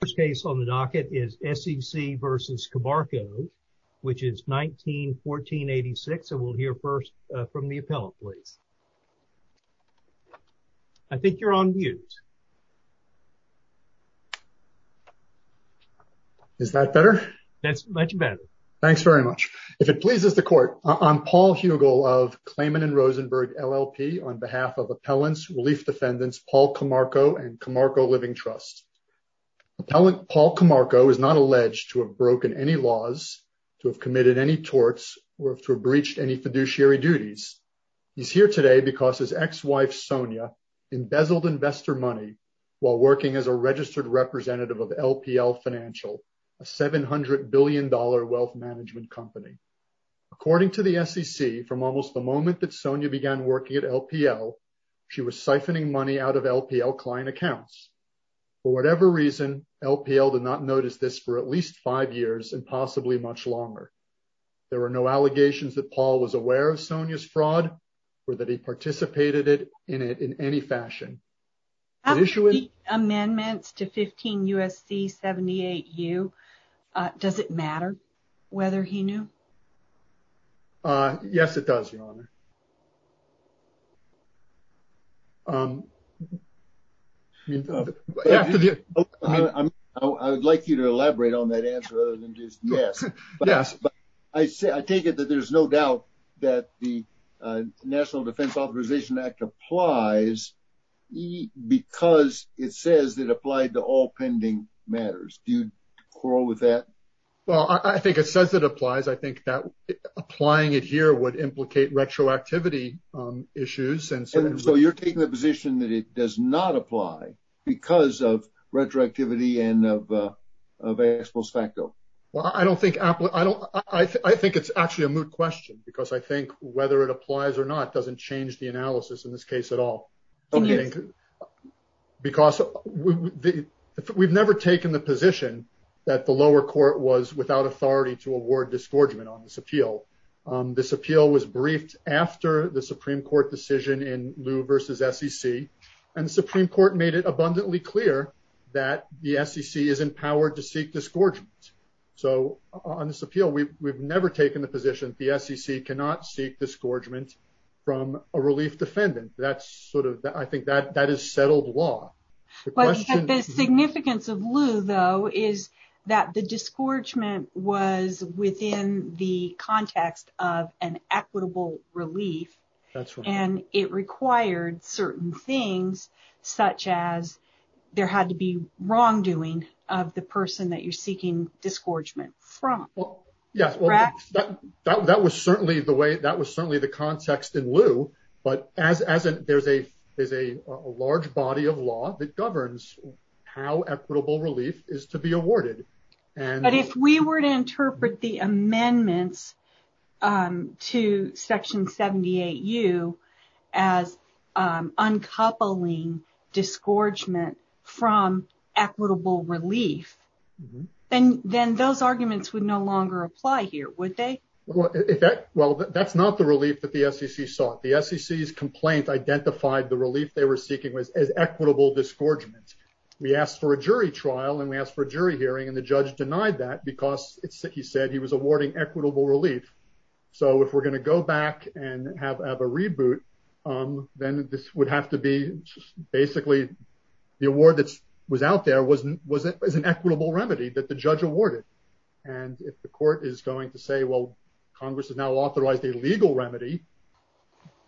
The first case on the docket is SEC v. Camarco, which is 1914-86, and we'll hear first from the appellant, please. I think you're on mute. Is that better? That's much better. Thanks very much. If it pleases the court, I'm Paul Hugel of Clayman and Rosenberg LLP on behalf of appellants, relief defendants, Paul Camarco and Camarco Living Trust. Appellant Paul Camarco is not alleged to have broken any laws, to have committed any torts or to have breached any fiduciary duties. He's here today because his ex-wife, Sonia, embezzled investor money while working as a registered representative of LPL Financial, a $700 billion wealth management company. According to the SEC, from almost the moment that Sonia began working at LPL, she was siphoning money out of LPL client accounts. For whatever reason, LPL did not notice this for at least five years and possibly much longer. There were no allegations that Paul was aware of Sonia's fraud or that he participated in it in any fashion. After the amendments to 15 U.S.C. 78U, does it matter whether he knew? Yes, it does, Your Honor. I would like you to elaborate on that answer other than just yes. Yes. I take it that there's no doubt that the National Defense Authorization Act applies because it says it applied to all pending matters. Do you quarrel with that? Well, I think it says it applies. I think that applying it here would implicate retroactivity issues. And so you're taking the position that it does not apply because of retroactivity and of ex post facto? Well, I think it's actually a moot question because I think whether it applies or not doesn't change the analysis in this case at all. Because we've never taken the position that the lower court was without authority to award disgorgement on this appeal. This appeal was briefed after the Supreme Court decision in Lew v. SEC. And the Supreme Court made it abundantly clear that the SEC is empowered to seek disgorgement. So on this appeal, we've never taken the position the SEC cannot seek disgorgement from a relief defendant. That's sort of I think that that is settled law. The significance of Lew, though, is that the disgorgement was within the context of an equitable relief. And it required certain things such as there had to be wrongdoing of the person that you're seeking disgorgement from. Well, yes, that was certainly the way that was certainly the context in Lew. But as there's a large body of law that governs how equitable relief is to be awarded. But if we were to interpret the amendments to Section 78U as uncoupling disgorgement from equitable relief, then then those arguments would no longer apply here, would they? Well, if that well, that's not the relief that the SEC sought. The SEC's complaint identified the relief they were seeking was as equitable disgorgement. We asked for a jury trial and we asked for a jury hearing and the judge denied that because he said he was awarding equitable relief. So if we're going to go back and have a reboot, then this would have to be basically the award that was out there was an equitable remedy that the judge awarded. And if the court is going to say, well, Congress is now authorized a legal remedy,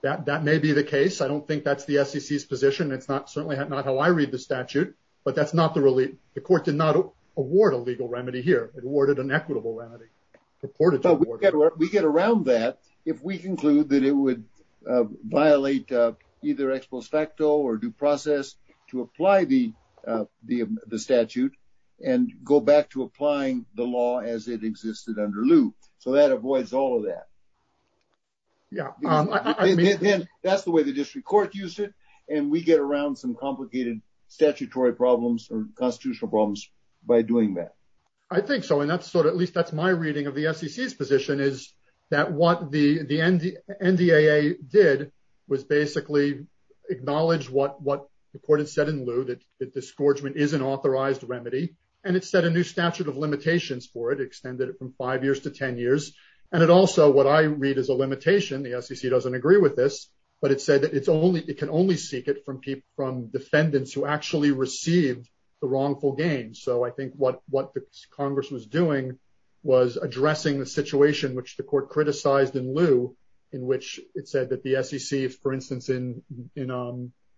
that that may be the case. I don't think that's the SEC's position. It's not certainly not how I read the statute, but that's not the relief. The court did not award a legal remedy here. It awarded an equitable remedy. We get around that if we conclude that it would violate either ex post facto or due process to apply the statute and go back to applying the law as it existed under lieu. So that avoids all of that. Yeah, that's the way the district court used it. And we get around some complicated statutory problems or constitutional problems by doing that. I think so. And that's sort of at least that's my reading of the SEC's position is that what the the NDAA did was basically acknowledge what what the court had said in lieu that that disgorgement is an authorized remedy. And it said a new statute of limitations for it, extended it from five years to 10 years. And it also what I read is a limitation. The SEC doesn't agree with this, but it said that it's only it can only seek it from people from defendants who actually received the wrongful gain. So I think what what Congress was doing was addressing the situation which the court criticized in lieu, in which it said that the SEC, for instance, in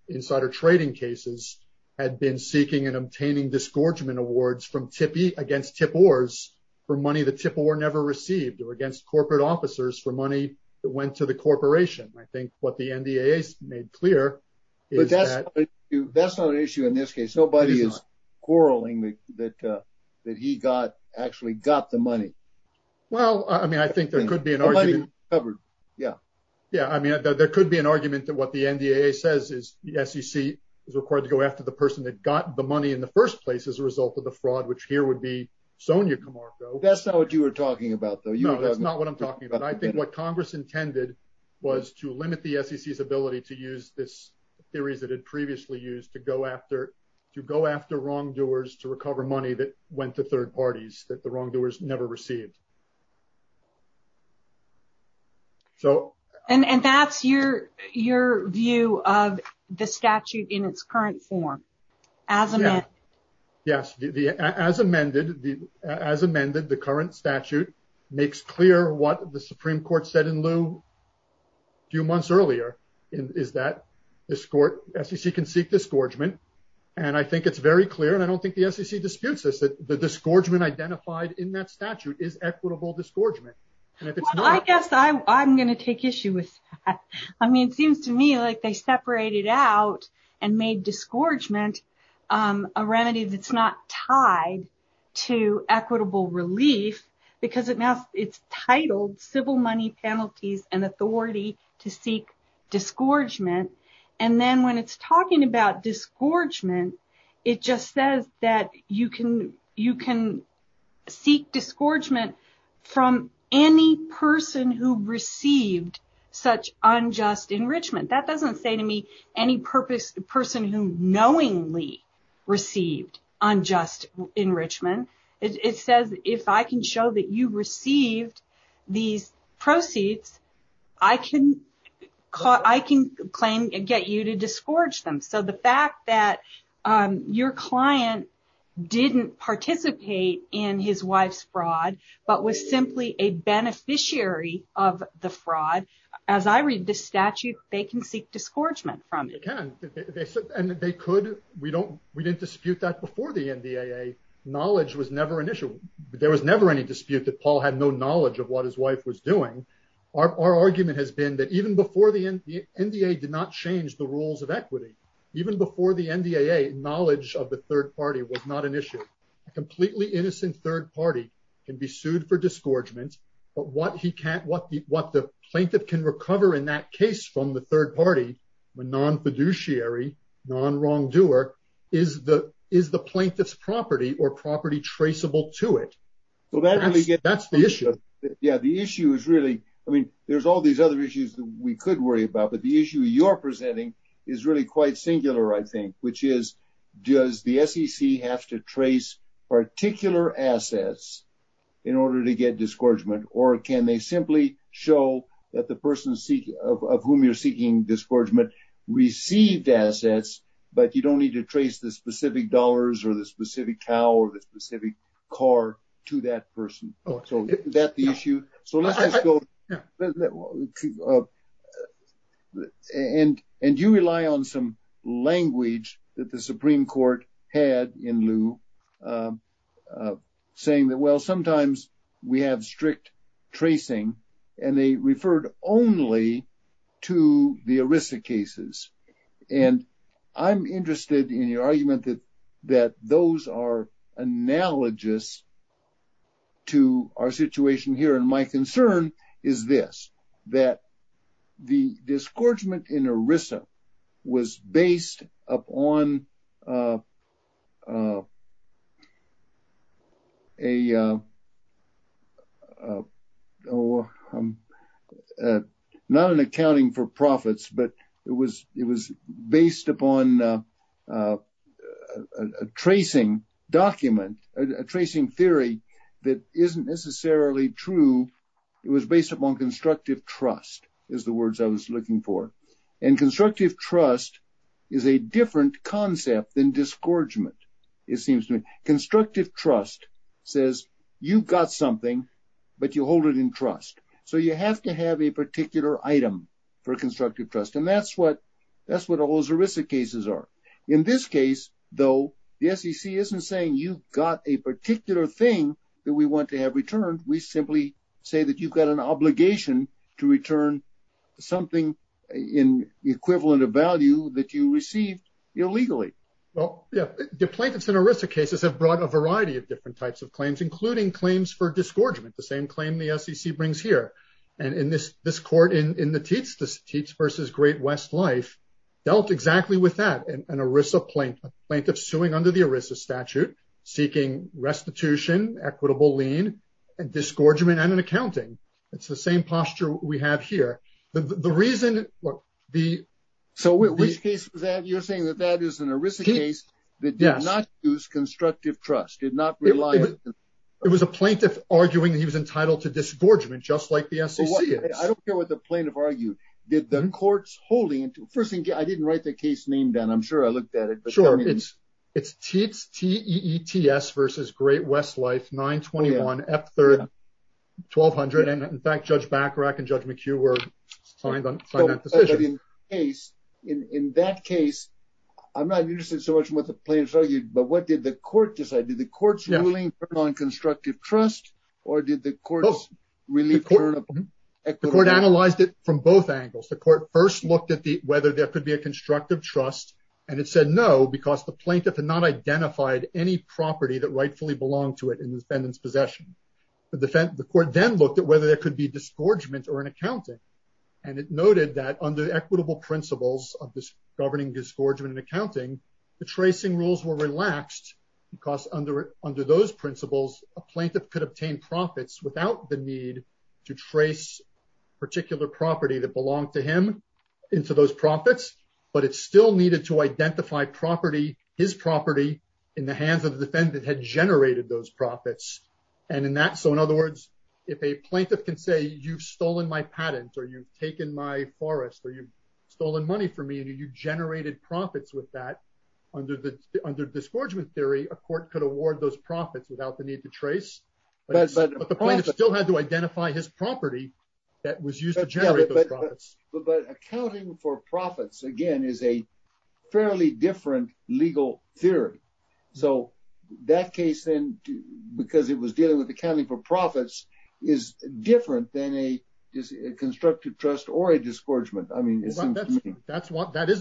insider trading cases, had been seeking and obtaining disgorgement awards from tippy against tip oars for money. The tip were never received or against corporate officers for money that went to the corporation. I think what the NDAA made clear is that that's not an issue in this case. Nobody is quarreling that that he got actually got the money. Well, I mean, I think there could be an argument covered. Yeah. Yeah. I mean, there could be an argument that what the NDAA says is the SEC is required to go after the person that got the money in the first place as a result of the fraud, which here would be Sonia Camargo. That's not what you were talking about, though. You know, that's not what I'm talking about. But I think what Congress intended was to limit the SEC's ability to use this theories that had previously used to go after to go after wrongdoers to recover money that went to third parties, that the wrongdoers never received. So. And that's your your view of the statute in its current form. Yes. As amended, as amended, the current statute makes clear what the Supreme Court said in lieu. Few months earlier, is that this court SEC can seek disgorgement. And I think it's very clear and I don't think the SEC disputes this, that the disgorgement identified in that statute is equitable disgorgement. And I guess I'm going to take issue with that. I mean, it seems to me like they separated out and made disgorgement a remedy that's not tied to equitable relief, because it now it's titled civil money penalties and authority to seek disgorgement. And then when it's talking about disgorgement, it just says that you can you can seek disgorgement from any person who received such unjust enrichment. That doesn't say to me any purpose person who knowingly received unjust enrichment. It says if I can show that you received these proceeds, I can claim and get you to disgorge them. So the fact that your client didn't participate in his wife's fraud, but was simply a beneficiary of the fraud. As I read the statute, they can seek disgorgement from it. And they could. We don't we didn't dispute that before the NDAA. Knowledge was never an issue. There was never any dispute that Paul had no knowledge of what his wife was doing. Our argument has been that even before the NDAA did not change the rules of equity, even before the NDAA, knowledge of the third party was not an issue. A completely innocent third party can be sued for disgorgement. But what he can't what what the plaintiff can recover in that case from the third party when non fiduciary non wrongdoer is the is the plaintiff's property or property traceable to it. Well, that's that's the issue. Yeah, the issue is really I mean, there's all these other issues that we could worry about. But the issue you're presenting is really quite singular, I think, which is, does the SEC have to trace particular assets in order to get disgorgement? Or can they simply show that the person of whom you're seeking disgorgement received assets, but you don't need to trace the specific dollars or the specific cow or the specific car to that person? So is that the issue? So let's just go. And and you rely on some language that the Supreme Court had in lieu of saying that, well, sometimes we have strict tracing and they referred only to the Arisa cases. And I'm interested in your argument that that those are analogous to our situation here. And my concern is this, that the disgorgement in Arisa was based upon a not an accounting for profits, but it was it was based upon a tracing document, a tracing theory that isn't necessarily true. It was based upon constructive trust is the words I was looking for. And constructive trust is a different concept than disgorgement. It seems to me constructive trust says you've got something, but you hold it in trust. So you have to have a particular item for constructive trust. And that's what that's what all those Arisa cases are. In this case, though, the SEC isn't saying you've got a particular thing that we want to have returned. We simply say that you've got an obligation to return something in the equivalent of value that you received illegally. Well, the plaintiffs in Arisa cases have brought a variety of different types of claims, including claims for disgorgement, the same claim the SEC brings here. And in this this court in the teats, this teats versus Great West Life dealt exactly with that. And Arisa plaintiff suing under the Arisa statute seeking restitution, equitable lien and disgorgement and an accounting. It's the same posture we have here. The reason what the. So which case was that you're saying that that is an Arisa case that did not use constructive trust, did not rely. It was a plaintiff arguing that he was entitled to disgorgement, just like the SEC. I don't care what the plaintiff argued that the courts holding it. First thing, I didn't write the case name down. I'm sure I looked at it. Sure. It's it's teats, teats versus Great West Life. Nine twenty one F third twelve hundred. And in fact, Judge Bacharach and Judge McHugh were signed on that decision. In that case, I'm not interested so much in what the plaintiffs argued, but what did the court decide? Did the court's ruling on constructive trust or did the courts really? The court analyzed it from both angles. The court first looked at whether there could be a constructive trust. And it said no, because the plaintiff had not identified any property that rightfully belonged to it in the defendant's possession. The court then looked at whether there could be disgorgement or an accounting. And it noted that under equitable principles of this governing disgorgement and accounting, the tracing rules were relaxed because under under those principles, a plaintiff could obtain profits without the need to trace particular property that belonged to him into those profits. But it still needed to identify property, his property in the hands of the defendant had generated those profits. And in that. So in other words, if a plaintiff can say you've stolen my patent or you've taken my forest or you've stolen money from me and you generated profits with that under the under disgorgement theory, a court could award those profits without the need to trace. But the point is still had to identify his property that was used to generate profits. But accounting for profits, again, is a fairly different legal theory. So that case, then, because it was dealing with accounting for profits is different than a constructive trust or a disgorgement. I mean, that's what that is.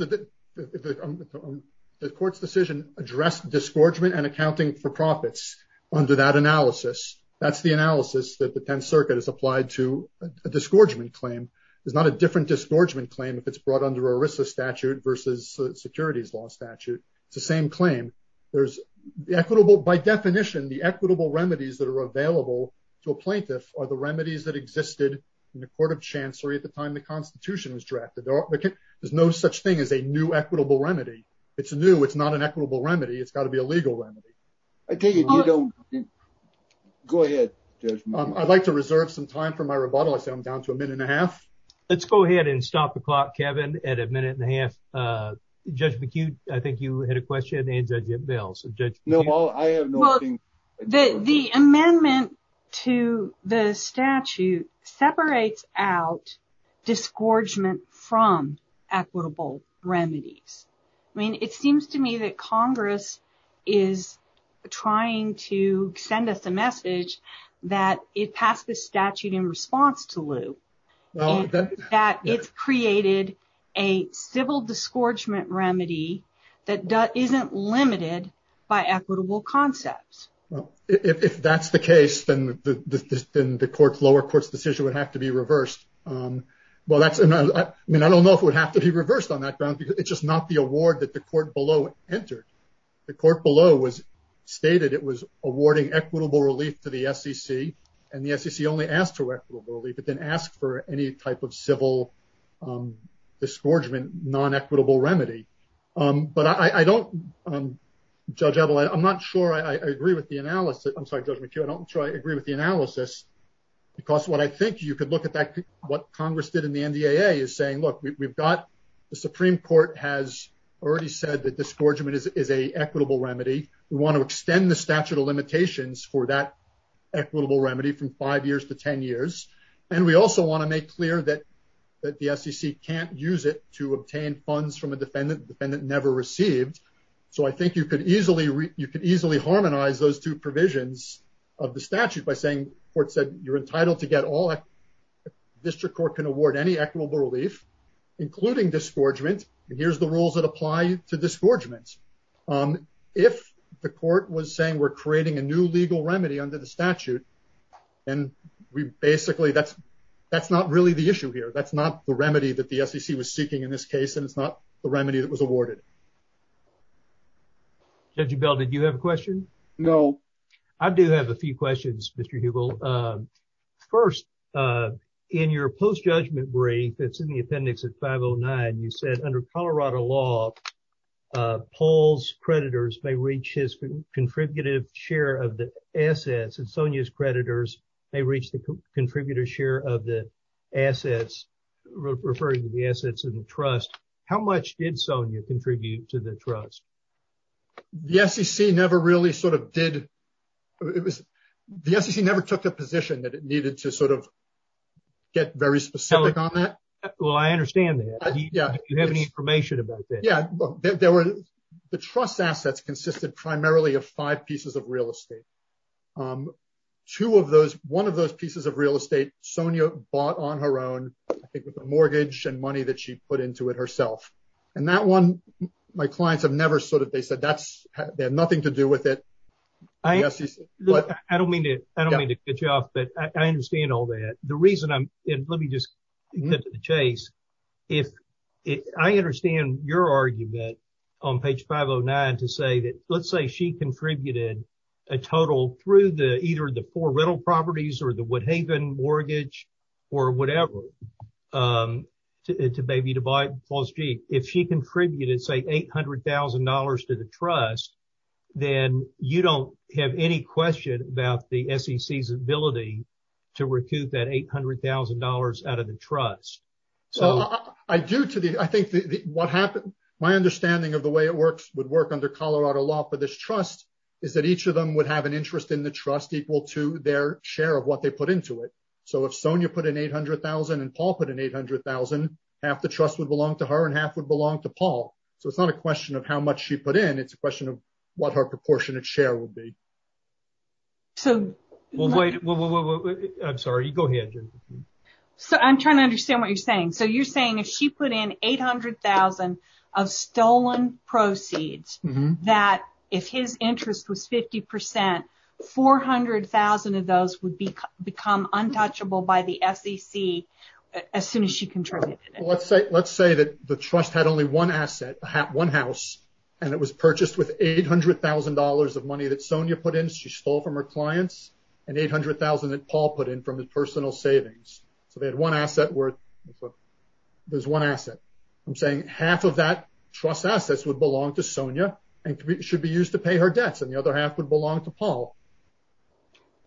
The court's decision addressed disgorgement and accounting for profits under that analysis. That's the analysis that the 10th Circuit has applied to a disgorgement claim. There's not a different disgorgement claim if it's brought under a risk of statute versus securities law statute. It's the same claim. There's the equitable by definition, the equitable remedies that are available to a plaintiff or the remedies that existed in the court of chancery at the time the Constitution was drafted. There's no such thing as a new equitable remedy. It's new. It's not an equitable remedy. It's got to be a legal remedy. I take it. You don't. Go ahead. I'd like to reserve some time for my rebuttal. I'm down to a minute and a half. Let's go ahead and stop the clock. Kevin, at a minute and a half. Judge McHugh, I think you had a question. No, I have the amendment to the statute separates out disgorgement from equitable remedies. I mean, it seems to me that Congress is trying to send us a message that it passed the statute in response to Lou that it's created a civil disgorgement remedy that isn't limited by equitable concepts. If that's the case, then the court's lower court's decision would have to be reversed. Well, that's I mean, I don't know if it would have to be reversed on that ground, because it's just not the award that the court below entered. The court below was stated it was awarding equitable relief to the SEC and the SEC only asked for equitable relief, but then asked for any type of civil disgorgement, non equitable remedy. But I don't, Judge Ebel, I'm not sure I agree with the analysis. I'm sorry, Judge McHugh, I don't agree with the analysis. Because what I think you could look at what Congress did in the NDAA is saying, look, we've got the Supreme Court has already said that disgorgement is a equitable remedy. We want to extend the statute of limitations for that equitable remedy from five years to 10 years. And we also want to make clear that that the SEC can't use it to obtain funds from a defendant, the defendant never received. So I think you could easily you could easily harmonize those two provisions of the statute by saying court said you're entitled to get all district court can award any equitable relief, including disgorgement. Here's the rules that apply to disgorgements. If the court was saying we're creating a new legal remedy under the statute. And we basically that's, that's not really the issue here. That's not the remedy that the SEC was seeking in this case and it's not the remedy that was awarded. Judge Bell, did you have a question? No. I do have a few questions, Mr. Hubel. First, in your post judgment brief that's in the appendix at 509 you said under Colorado law, Paul's creditors may reach his contributive share of the assets and Sonia's creditors may reach the contributor share of the assets, referring to the assets in the trust. How much did Sonia contribute to the trust. The SEC never really sort of did. It was the SEC never took a position that it needed to sort of get very specific on that. Well I understand that. Yeah, you have any information about that. Yeah, there were the trust assets consisted primarily of five pieces of real estate. Two of those, one of those pieces of real estate, Sonia bought on her own, I think with a mortgage and money that she put into it herself, and that one. My clients have never sort of they said that's, they have nothing to do with it. I don't mean to. I don't mean to get you off but I understand all that. The reason I'm in, let me just chase. If I understand your argument on page 509 to say that, let's say she contributed a total through the either the poor rental properties or the Woodhaven mortgage, or whatever. To baby to buy false G, if she contributed say $800,000 to the trust, then you don't have any question about the SEC visibility to recoup that $800,000 out of the trust. So, I do to the, I think what happened, my understanding of the way it works would work under Colorado law for this trust is that each of them would have an interest in the trust equal to their share of what they put into it. So if Sonia put an 800,000 and Paul put an 800,000 half the trust would belong to her and half would belong to Paul, so it's not a question of how much she put in it's a question of what her proportionate share will be. I'm sorry, go ahead. So I'm trying to understand what you're saying. So you're saying if she put in 800,000 of stolen proceeds that if his interest was 50%, 400,000 of those would become untouchable by the SEC as soon as she contributed. Let's say that the trust had only one asset, one house, and it was purchased with $800,000 of money that Sonia put in she stole from her clients and 800,000 that Paul put in from his personal savings. So they had one asset worth. There's one asset. I'm saying half of that trust assets would belong to Sonia, and should be used to pay her debts and the other half would belong to Paul.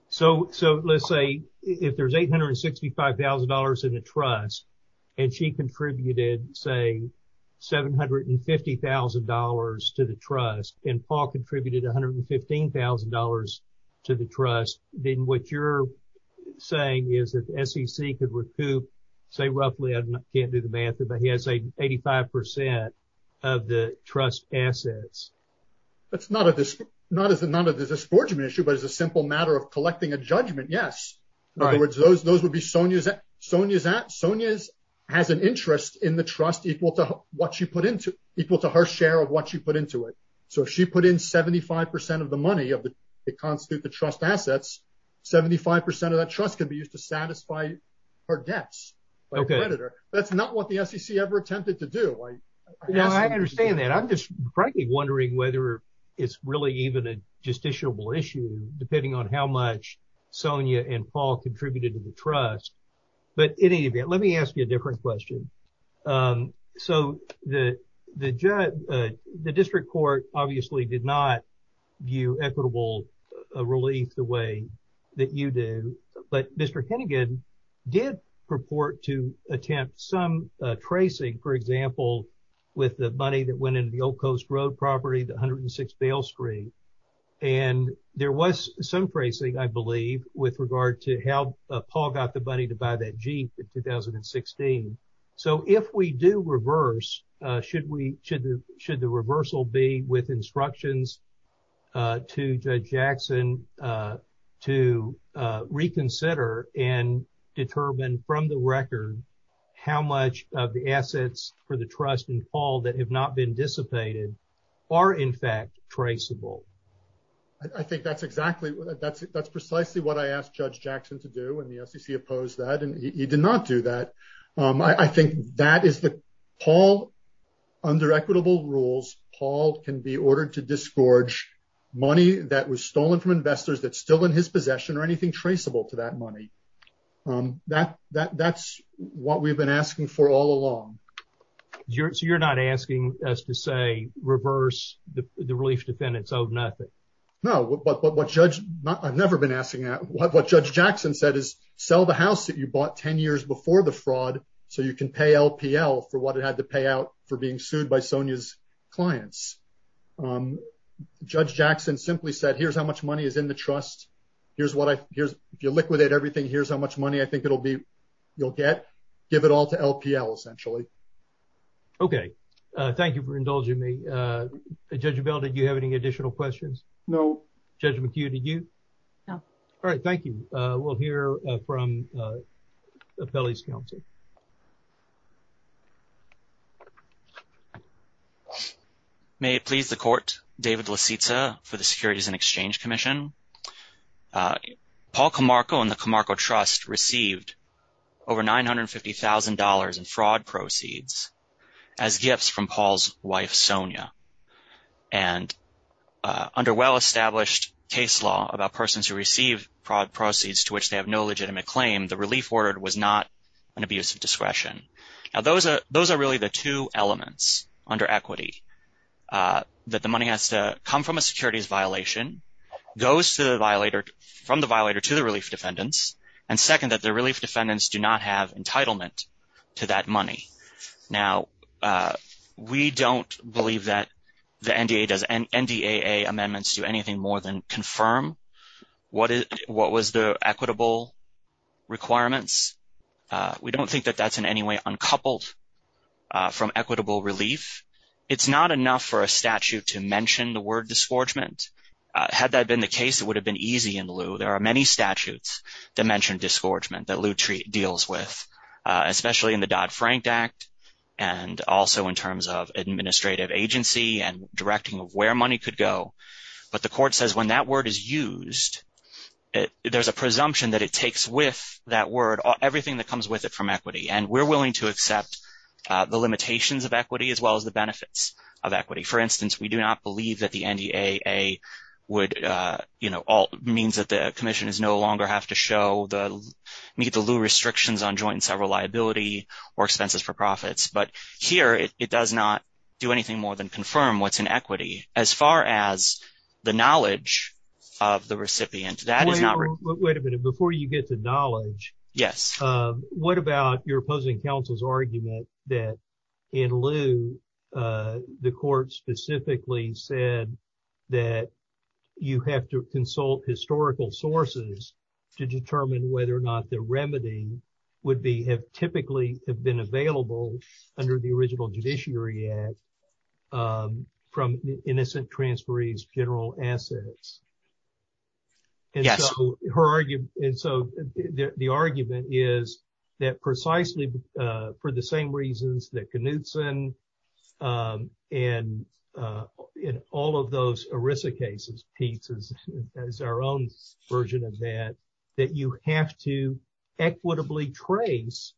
So, so let's say if there's $865,000 in the trust, and she contributed, say, $750,000 to the trust and Paul contributed $115,000 to the trust, then what you're saying is that SEC could recoup say roughly I can't do the math, but he has a 85% of the trust assets. That's not a this, not as a non of the discouragement issue but as a simple matter of collecting a judgment yes. All right, those those would be Sonia's at Sonia's at Sonia's has an interest in the trust equal to what you put into equal to her share of what you put into it. So if she put in 75% of the money of the constitute the trust assets 75% of that trust can be used to satisfy her debts. Okay, that's not what the SEC ever attempted to do. No, I understand that I'm just frankly wondering whether it's really even a justiciable issue, depending on how much Sonia and Paul contributed to the trust, but in any event, let me ask you a different question. So, the, the, the district court, obviously did not view equitable relief the way that you do, but Mr Hannigan did purport to attempt some tracing, for example, with the money that went into the old coast road property the hundred and six Bale Street. And there was some tracing, I believe, with regard to how Paul got the money to buy that Jeep in 2016. So if we do reverse, should we should should the reversal be with instructions to judge Jackson to reconsider and determine from the record, how much of the assets for the trust and Paul that have not been dissipated are in fact traceable. I think that's exactly what that's it that's precisely what I asked Judge Jackson to do and the SEC opposed that and he did not do that. I think that is the Paul under equitable rules, Paul can be ordered to disgorge money that was stolen from investors that still in his possession or anything traceable to that money that that that's what we've been asking for all along. You're not asking us to say reverse the relief defendants of nothing. No, but what judge. I've never been asking that what what Judge Jackson said is sell the house that you bought 10 years before the fraud, so you can pay LPL for what it had to pay out for being sued by Sonia's clients. Judge Jackson simply said, here's how much money is in the trust. Here's what I here's your liquidate everything. Here's how much money I think it'll be. You'll get give it all to LPL essentially. Okay, thank you for indulging me. Judge Bell, did you have any additional questions. No judgment to you. Did you know. All right. Thank you. We'll hear from the bellies county. May it please the court, David LaCitsa for the Securities and Exchange Commission. Paul Camargo and the Camargo Trust received over $950,000 in fraud proceeds as gifts from Paul's wife Sonia. And under well-established case law about persons who receive fraud proceeds to which they have no legitimate claim, the relief ordered was not an abuse of discretion. Now, those are those are really the two elements under equity that the money has to come from a securities violation goes to the violator from the violator to the relief defendants. And second, that the relief defendants do not have entitlement to that money. Now, we don't believe that the NDA does and NDA amendments do anything more than confirm. What is what was the equitable requirements? We don't think that that's in any way uncoupled from equitable relief. It's not enough for a statute to mention the word disgorgement. Had that been the case, it would have been easy in lieu. There are many statutes that mention disgorgement that lieu deals with, especially in the Dodd-Frank Act and also in terms of administrative agency and directing of where money could go. But the court says when that word is used, there's a presumption that it takes with that word everything that comes with it from equity. And we're willing to accept the limitations of equity as well as the benefits of equity. For instance, we do not believe that the NDA would, you know, all means that the commission is no longer have to show the meet the restrictions on joint and several liability or expenses for profits. But here it does not do anything more than confirm what's in equity as far as the knowledge of the recipient. Wait a minute before you get the knowledge. Yes. What about your opposing counsel's argument that in lieu, the court specifically said that you have to consult historical sources to determine whether or not the remedy would be have typically have been available under the original judiciary act from innocent transferees general assets? Yes. Her argument. And so the argument is that precisely for the same reasons that Knutson and in all of those Arisa cases pieces as our own version of that, that you have to equitably trace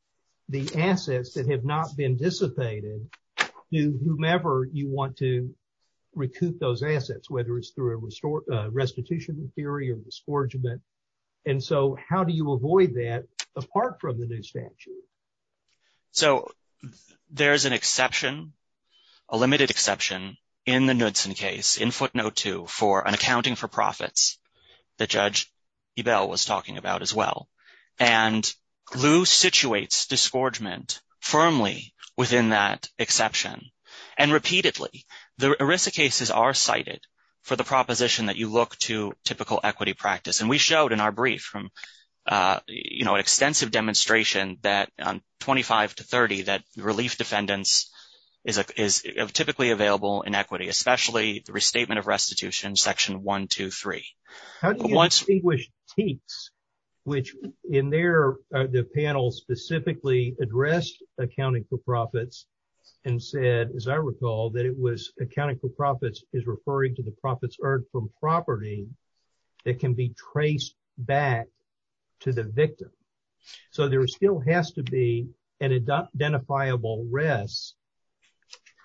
the assets that have not been dissipated. Whomever you want to recoup those assets, whether it's through a restore restitution theory or disgorgement. And so how do you avoid that apart from the new statute? So there's an exception, a limited exception in the Knudsen case in footnote two for an accounting for profits. The judge Ebel was talking about as well. And Lou situates disgorgement firmly within that exception. And repeatedly, the Arisa cases are cited for the proposition that you look to typical equity practice. And we showed in our brief from an extensive demonstration that on twenty five to thirty that relief defendants is typically available in equity, especially the restatement of restitution section one, two, three. How do you distinguish teats, which in their the panel specifically addressed accounting for profits and said, as I recall, that it was accounting for profits is referring to the profits earned from property that can be traced back to the victim. So there still has to be an identifiable risk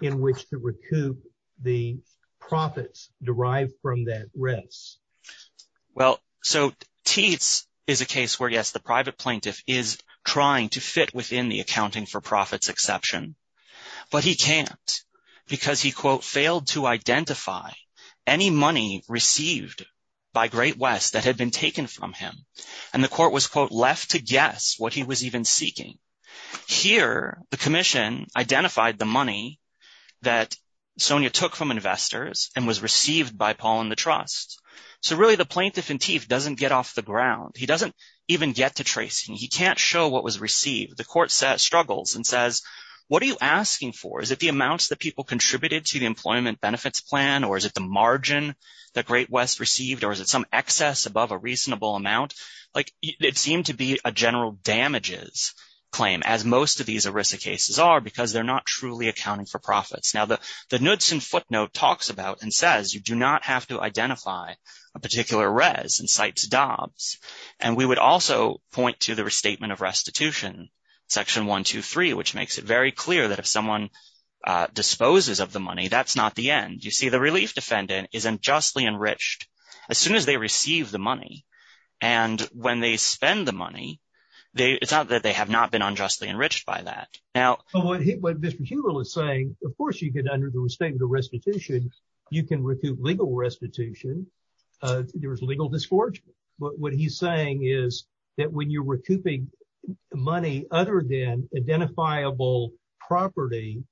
in which to recoup the profits derived from that risk. Well, so teats is a case where, yes, the private plaintiff is trying to fit within the accounting for profits exception, but he can't because he, quote, failed to identify any money received by Great West that had been taken from him. And the court was, quote, left to guess what he was even seeking. Here, the commission identified the money that Sonia took from investors and was received by Paul and the trust. So really, the plaintiff in teeth doesn't get off the ground. He doesn't even get to tracing. He can't show what was received. The court struggles and says, what are you asking for? Is it the amounts that people contributed to the employment benefits plan? Or is it the margin that Great West received? Or is it some excess above a reasonable amount? Like it seemed to be a general damages claim, as most of these ERISA cases are because they're not truly accounting for profits. Now, the Knudsen footnote talks about and says you do not have to identify a particular res and cites dobs. And we would also point to the restatement of restitution, section one, two, three, which makes it very clear that if someone disposes of the money, that's not the end. You see, the relief defendant is unjustly enriched as soon as they receive the money. And when they spend the money, it's not that they have not been unjustly enriched by that. Now, what Mr. Hubel is saying, of course, you get under the restatement of restitution. You can recoup legal restitution. There is legal disgorgement. But what he's saying is that when you're recouping money other than identifiable property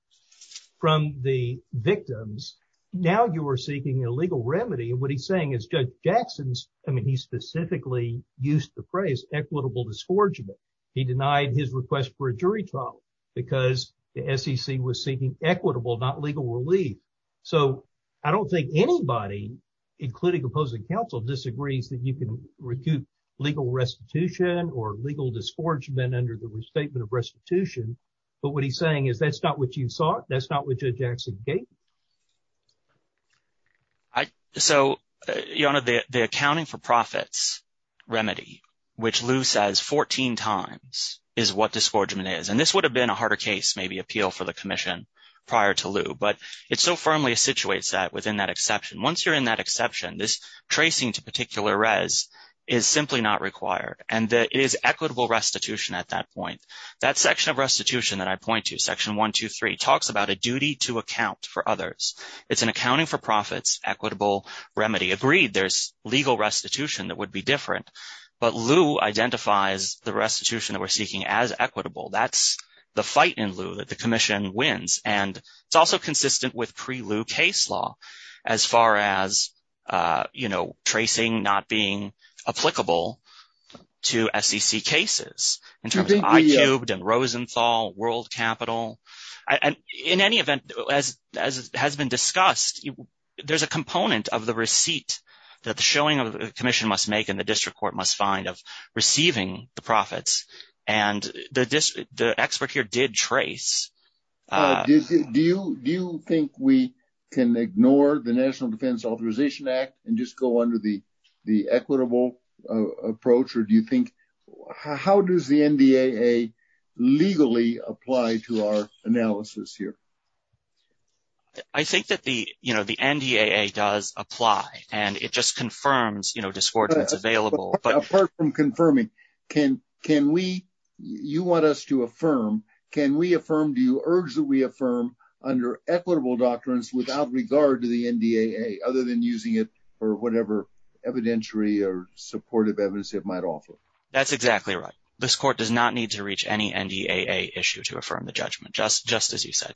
from the victims, now you are seeking a legal remedy. And what he's saying is Judge Jackson's. I mean, he specifically used the phrase equitable disgorgement. He denied his request for a jury trial because the SEC was seeking equitable, not legal relief. So I don't think anybody, including opposing counsel, disagrees that you can recoup legal restitution or legal disgorgement under the restatement of restitution. But what he's saying is that's not what you sought. That's not what Judge Jackson gave. So the accounting for profits remedy, which Lou says 14 times, is what disgorgement is. And this would have been a harder case, maybe appeal for the commission prior to Lou. But it so firmly situates that within that exception. Once you're in that exception, this tracing to particular res is simply not required. And it is equitable restitution at that point. That section of restitution that I point to, Section 123, talks about a duty to account for others. It's an accounting for profits equitable remedy. Agreed, there's legal restitution that would be different. But Lou identifies the restitution that we're seeking as equitable. That's the fight in Lou that the commission wins. And it's also consistent with pre-Lou case law as far as, you know, tracing not being applicable to SEC cases in terms of iCubed and Rosenthal, World Capital. And in any event, as has been discussed, there's a component of the receipt that the showing of the commission must make and the district court must find of receiving the profits. And the expert here did trace. Do you think we can ignore the National Defense Authorization Act and just go under the equitable approach? Or do you think how does the NDAA legally apply to our analysis here? I think that the, you know, the NDAA does apply. And it just confirms, you know, discordance available. Apart from confirming, can we, you want us to affirm, can we affirm, do you urge that we affirm under equitable doctrines without regard to the NDAA other than using it for whatever evidentiary or supportive evidence it might offer? That's exactly right. This court does not need to reach any NDAA issue to affirm the judgment, just as you said.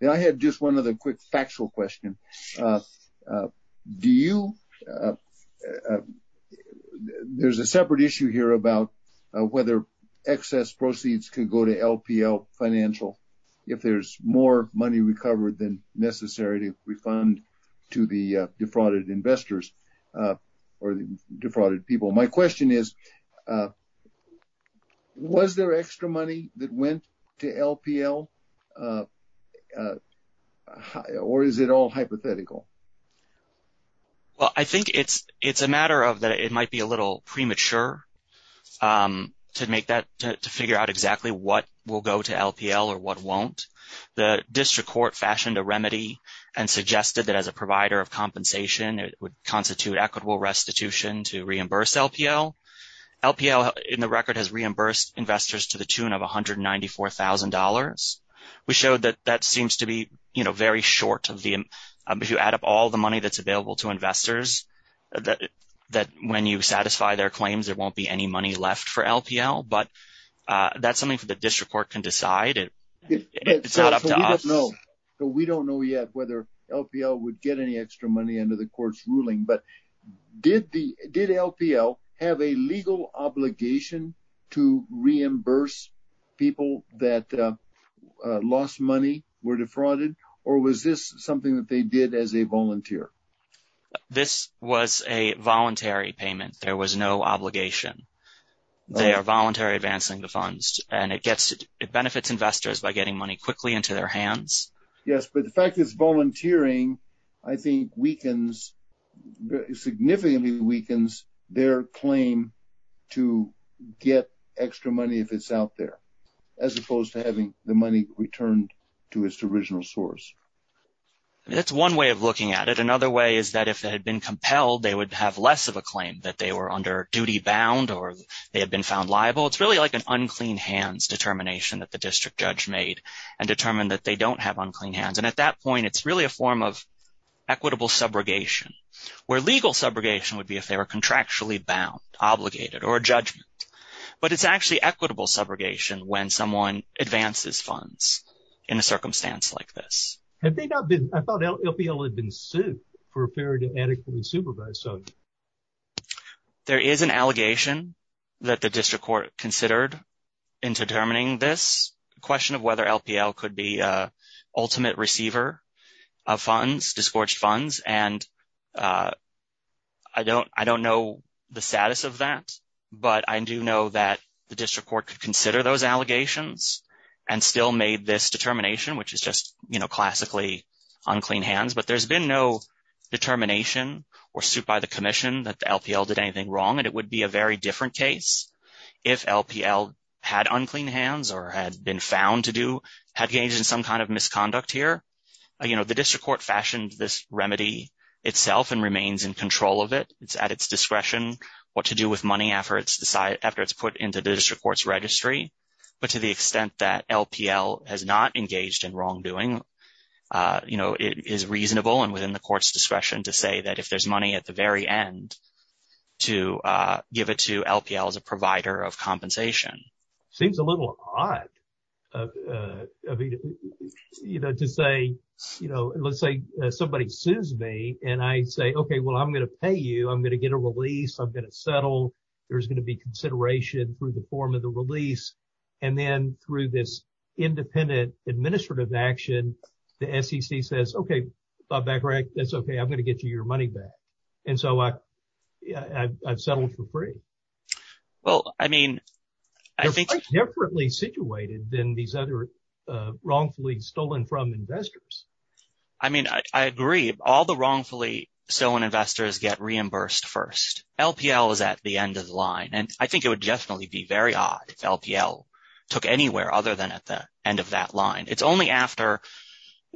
And I had just one other quick factual question. Do you? There's a separate issue here about whether excess proceeds can go to LPL financial if there's more money recovered than necessary to refund to the defrauded investors or defrauded people. My question is, was there extra money that went to LPL? Or is it all hypothetical? Well, I think it's a matter of that it might be a little premature to make that, to figure out exactly what will go to LPL or what won't. The district court fashioned a remedy and suggested that as a provider of compensation, it would constitute equitable restitution to reimburse LPL. LPL, in the record, has reimbursed investors to the tune of $194,000. We showed that that seems to be, you know, very short of the, if you add up all the money that's available to investors, that when you satisfy their claims, there won't be any money left for LPL. But that's something for the district court can decide. It's not up to us. So we don't know yet whether LPL would get any extra money under the court's ruling. But did LPL have a legal obligation to reimburse people that lost money, were defrauded? Or was this something that they did as a volunteer? This was a voluntary payment. There was no obligation. They are voluntary advancing the funds, and it benefits investors by getting money quickly into their hands. Yes, but the fact it's volunteering, I think, weakens, significantly weakens their claim to get extra money if it's out there, as opposed to having the money returned to its original source. That's one way of looking at it. Another way is that if they had been compelled, they would have less of a claim that they were under duty bound or they had been found liable. It's really like an unclean hands determination that the district judge made and determined that they don't have unclean hands. And at that point, it's really a form of equitable subrogation, where legal subrogation would be if they were contractually bound, obligated, or a judgment. But it's actually equitable subrogation when someone advances funds in a circumstance like this. I thought LPL had been sued for failure to adequately supervise. There is an allegation that the district court considered in determining this question of whether LPL could be ultimate receiver of funds, disgorged funds. And I don't know the status of that, but I do know that the district court could consider those allegations and still made this determination, which is just classically unclean hands. But there's been no determination or suit by the commission that the LPL did anything wrong. And it would be a very different case if LPL had unclean hands or had been found to do, had engaged in some kind of misconduct here. The district court fashioned this remedy itself and remains in control of it. It's at its discretion what to do with money after it's put into the district court's registry. But to the extent that LPL has not engaged in wrongdoing, it is reasonable and within the court's discretion to say that if there's money at the very end to give it to LPL as a provider of compensation. Seems a little odd, you know, to say, you know, let's say somebody sues me and I say, OK, well, I'm going to pay you. I'm going to get a release. I'm going to settle. There's going to be consideration through the form of the release. And then through this independent administrative action, the SEC says, OK, that's OK. I'm going to get you your money back. And so I've settled for free. Well, I mean, I think differently situated than these other wrongfully stolen from investors. I mean, I agree. All the wrongfully stolen investors get reimbursed first. LPL is at the end of the line. And I think it would definitely be very odd if LPL took anywhere other than at the end of that line. It's only after.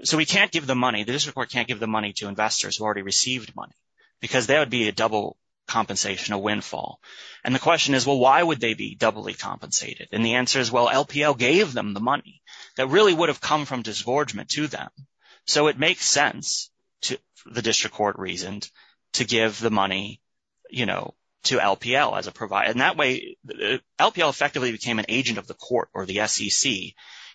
So we can't give the money. The district court can't give the money to investors who already received money because there would be a double compensation, a windfall. And the question is, well, why would they be doubly compensated? And the answer is, well, LPL gave them the money that really would have come from disgorgement to them. So it makes sense to the district court reasoned to give the money, you know, to LPL as a provider. And that way, LPL effectively became an agent of the court or the SEC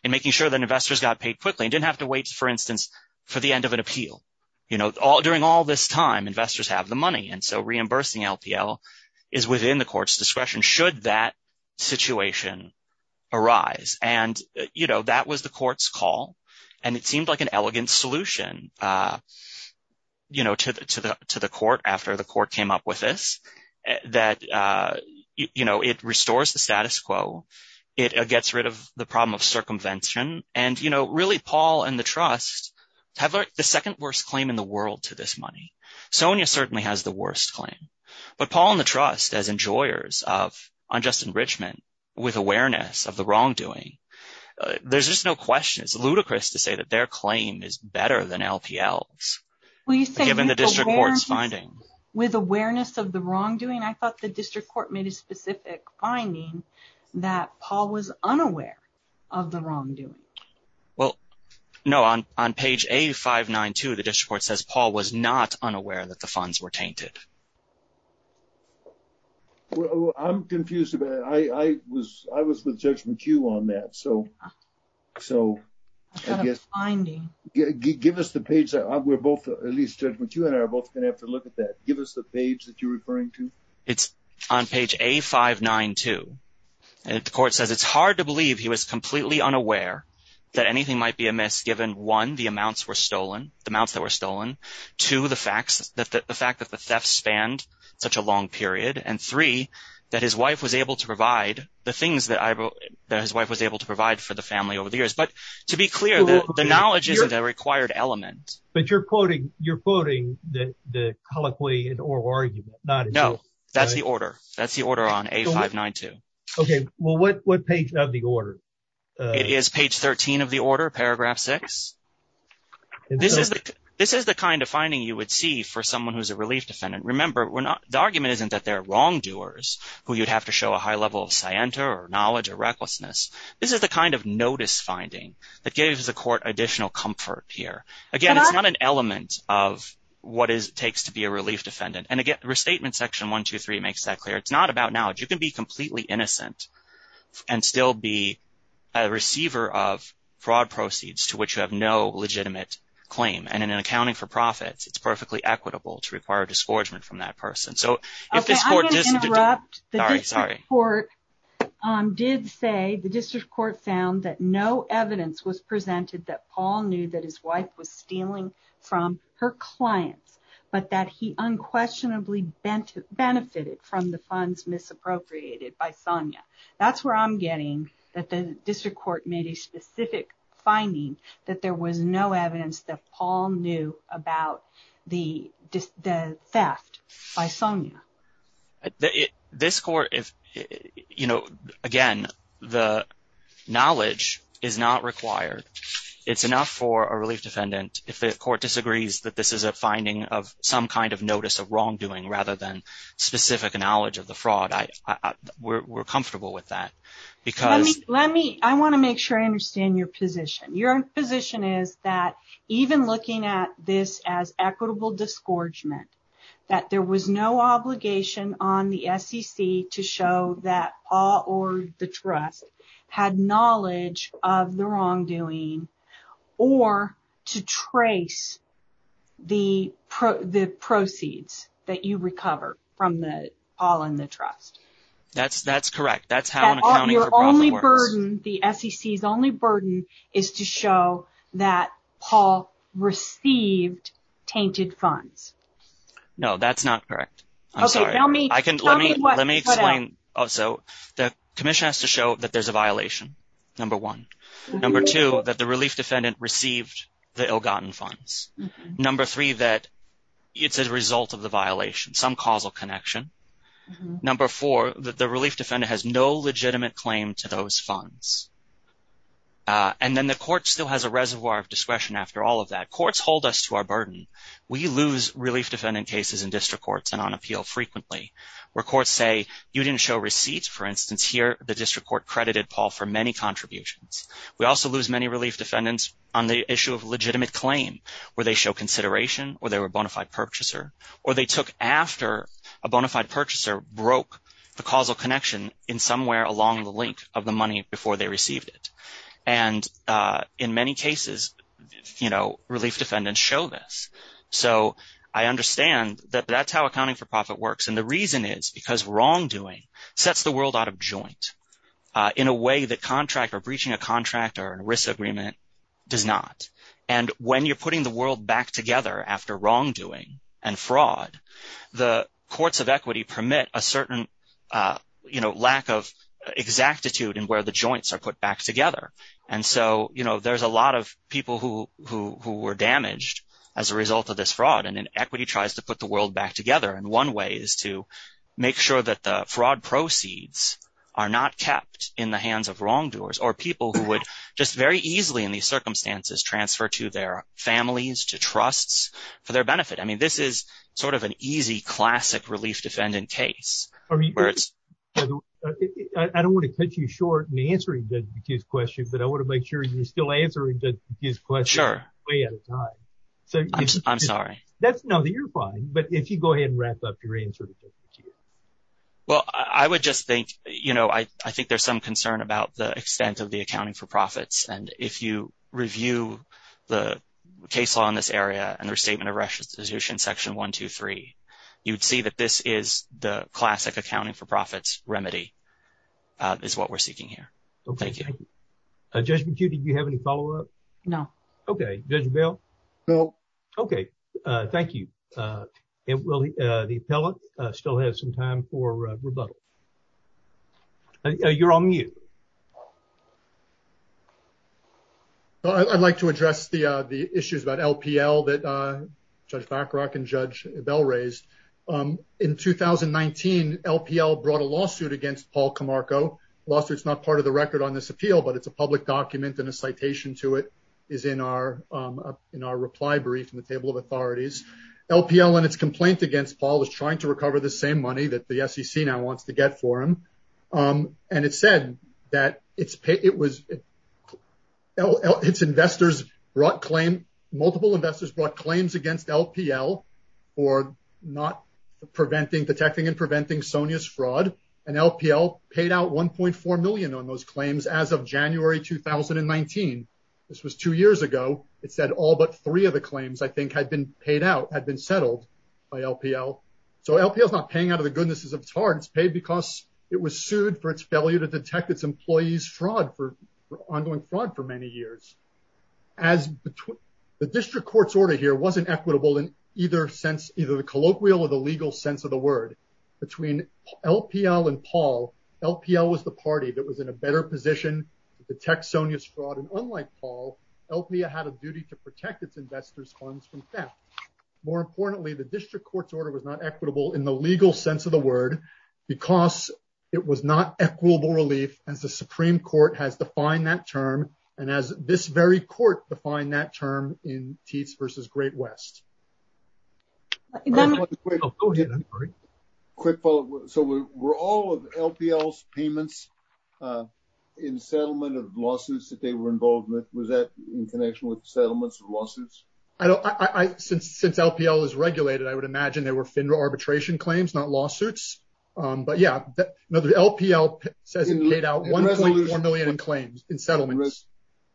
in making sure that investors got paid quickly and didn't have to wait, for instance, for the end of an appeal. You know, during all this time, investors have the money. And so reimbursing LPL is within the court's discretion should that situation arise. And, you know, that was the court's call. And it seemed like an elegant solution, you know, to the court after the court came up with this. That, you know, it restores the status quo. It gets rid of the problem of circumvention. And, you know, really, Paul and the trust have the second worst claim in the world to this money. Sonia certainly has the worst claim. But Paul and the trust, as enjoyers of unjust enrichment with awareness of the wrongdoing, there's just no question. It's ludicrous to say that their claim is better than LPL's. With awareness of the wrongdoing, I thought the district court made a specific finding that Paul was unaware of the wrongdoing. Well, no, on on page 8592, the district court says Paul was not unaware that the funds were tainted. Well, I'm confused about it. I was I was with Judge McHugh on that. So so I guess I mean, give us the page that we're both at least what you and I are both going to have to look at that. Give us the page that you're referring to. It's on page 8592. And the court says it's hard to believe he was completely unaware that anything might be amiss. Given one, the amounts were stolen, the amounts that were stolen to the facts, the fact that the theft spanned such a long period. And three, that his wife was able to provide the things that his wife was able to provide for the family over the years. But to be clear, the knowledge is a required element. But you're quoting you're quoting the colloquy in oral argument. No, that's the order. That's the order on 8592. OK, well, what what page of the order? It is page 13 of the order, paragraph six. This is this is the kind of finding you would see for someone who's a relief defendant. Remember, the argument isn't that they're wrongdoers who you'd have to show a high level of scienter or knowledge or recklessness. This is the kind of notice finding that gives the court additional comfort here. Again, it's not an element of what it takes to be a relief defendant. And again, restatement section one, two, three makes that clear. It's not about knowledge. You can be completely innocent and still be a receiver of fraud proceeds to which you have no legitimate claim. And in accounting for profits, it's perfectly equitable to require a disgorgement from that person. So if this court is corrupt, sorry, sorry. Or did say the district court found that no evidence was presented that Paul knew that his wife was stealing from her clients, but that he unquestionably benefited from the funds misappropriated by Sonia. That's where I'm getting that the district court made a specific finding that there was no evidence that Paul knew about the theft by Sonia. This court, if you know, again, the knowledge is not required. It's enough for a relief defendant. If the court disagrees that this is a finding of some kind of notice of wrongdoing rather than specific knowledge of the fraud. We're comfortable with that because let me I want to make sure I understand your position. Your position is that even looking at this as equitable disgorgement, that there was no obligation on the SEC to show that all or the trust had knowledge of the wrongdoing. Or to trace the proceeds that you recovered from the Paul and the trust. That's that's correct. That's how your only burden. The SEC's only burden is to show that Paul received tainted funds. No, that's not correct. I'm sorry. I can let me let me explain. So the commission has to show that there's a violation. Number one. Number two, that the relief defendant received the ill-gotten funds. Number three, that it's a result of the violation. Some causal connection. Number four, that the relief defendant has no legitimate claim to those funds. And then the court still has a reservoir of discretion after all of that. Courts hold us to our burden. We lose relief defendant cases in district courts and on appeal frequently. Where courts say you didn't show receipts. For instance, here the district court credited Paul for many contributions. We also lose many relief defendants on the issue of legitimate claim. Where they show consideration or they were a bona fide purchaser. Or they took after a bona fide purchaser broke the causal connection in somewhere along the link of the money before they received it. And in many cases, you know, relief defendants show this. So I understand that that's how accounting for profit works. And the reason is because wrongdoing sets the world out of joint. In a way that contract or breaching a contract or a risk agreement does not. And when you're putting the world back together after wrongdoing and fraud, the courts of equity permit a certain, you know, lack of exactitude in where the joints are put back together. And so, you know, there's a lot of people who were damaged as a result of this fraud. And then equity tries to put the world back together. And one way is to make sure that the fraud proceeds are not kept in the hands of wrongdoers. Or people who would just very easily in these circumstances transfer to their families, to trusts for their benefit. I mean, this is sort of an easy classic relief defendant case. I don't want to cut you short in answering his question. But I want to make sure you're still answering his question. Sure. Way out of time. I'm sorry. That's no, you're fine. But if you go ahead and wrap up your answer. Well, I would just think, you know, I think there's some concern about the extent of the accounting for profits. And if you review the case law in this area and their statement of restitution, section one, two, three, you'd see that this is the classic accounting for profits. Remedy is what we're seeking here. OK. Thank you. Did you have any follow up? No. OK. Bill. OK. Thank you. The appellate still has some time for rebuttal. You're on mute. I'd like to address the issues about LPL that Judge Backrock and Judge Bell raised. In 2019, LPL brought a lawsuit against Paul Camargo. Lawsuit's not part of the record on this appeal, but it's a public document and a citation to it is in our reply brief in the table of authorities. LPL and its complaint against Paul is trying to recover the same money that the SEC now wants to get for him. And it said that its investors brought claim, multiple investors brought claims against LPL for not preventing, detecting and preventing Sonya's fraud. And LPL paid out 1.4 million on those claims as of January 2019. This was two years ago. It said all but three of the claims, I think, had been paid out, had been settled by LPL. So LPL is not paying out of the goodness of its heart. It's paid because it was sued for its failure to detect its employees fraud for ongoing fraud for many years. The district court's order here wasn't equitable in either sense, either the colloquial or the legal sense of the word. Between LPL and Paul, LPL was the party that was in a better position to detect Sonya's fraud. And unlike Paul, LPL had a duty to protect its investors' funds from theft. More importantly, the district court's order was not equitable in the legal sense of the word because it was not equitable relief as the Supreme Court has defined that term. And as this very court defined that term in Teats versus Great West. Quick follow up. So we're all of LPL's payments in settlement of lawsuits that they were involved with. Was that in connection with settlements and lawsuits? I don't I since since LPL is regulated, I would imagine they were FINRA arbitration claims, not lawsuits. But, yeah, the LPL says it paid out one million claims in settlements.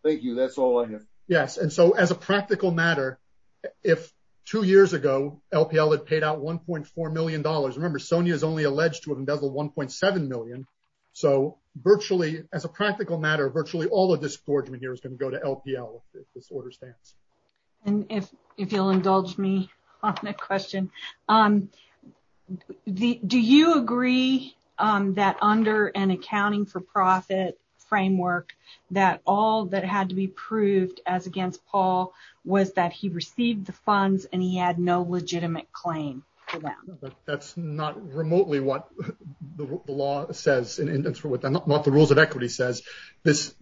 Thank you. That's all I have. Yes. And so as a practical matter, if two years ago LPL had paid out one point four million dollars. Remember, Sonya is only alleged to have embezzled one point seven million. So virtually as a practical matter, virtually all of this boardroom here is going to go to LPL if this order stands. And if if you'll indulge me on that question, do you agree that under an accounting for profit framework, that all that had to be proved as against Paul was that he received the funds and he had no legitimate claim? That's not remotely what the law says and what the rules of equity says. This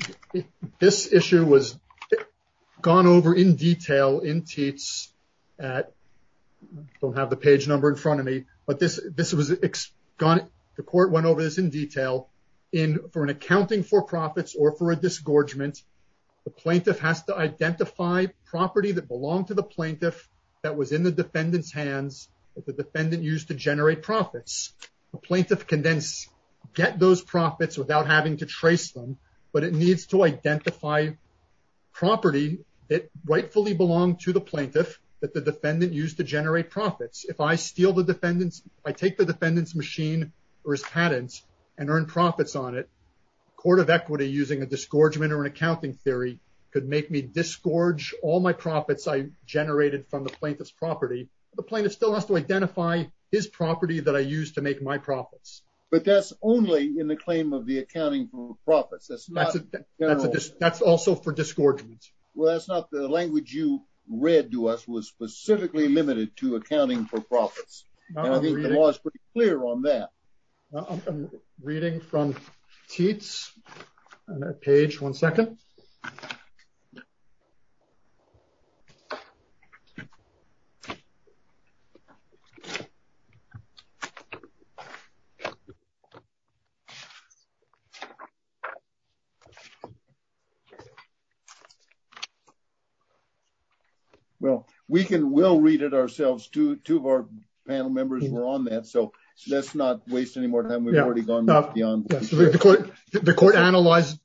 this issue was gone over in detail in Teats at. Don't have the page number in front of me, but this this was gone. The court went over this in detail in for an accounting for profits or for a disgorgement. The plaintiff has to identify property that belonged to the plaintiff that was in the defendant's hands. The defendant used to generate profits. The plaintiff can then get those profits without having to trace them. But it needs to identify property that rightfully belonged to the plaintiff that the defendant used to generate profits. If I steal the defendants, I take the defendant's machine or his patents and earn profits on it. Court of equity using a disgorgement or an accounting theory could make me disgorge all my profits I generated from the plaintiff's property. The plaintiff still has to identify his property that I use to make my profits. But that's only in the claim of the accounting for profits. That's not just that's also for disgorgement. Well, that's not the language you read to us was specifically limited to accounting for profits. I think the law is pretty clear on that. I'm reading from teats page. One second. Well, we can we'll read it ourselves to two of our panel members. We're on that. So let's not waste any more time. The court the court analyzed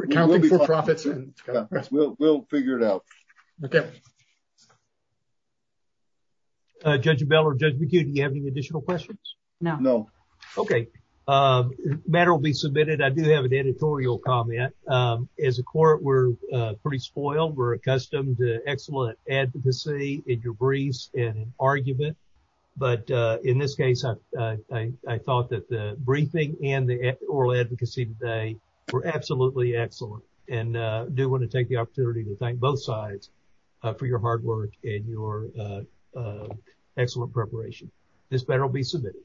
accounting for profits and we'll figure it out. OK. Judge Bell or Judge McHugh, do you have any additional questions? No, no. OK. Matter will be submitted. I do have an editorial comment. As a court, we're pretty spoiled. We're accustomed to excellent advocacy in your briefs and argument. But in this case, I thought that the briefing and the oral advocacy today were absolutely excellent. And I do want to take the opportunity to thank both sides for your hard work and your excellent preparation. This better be submitted.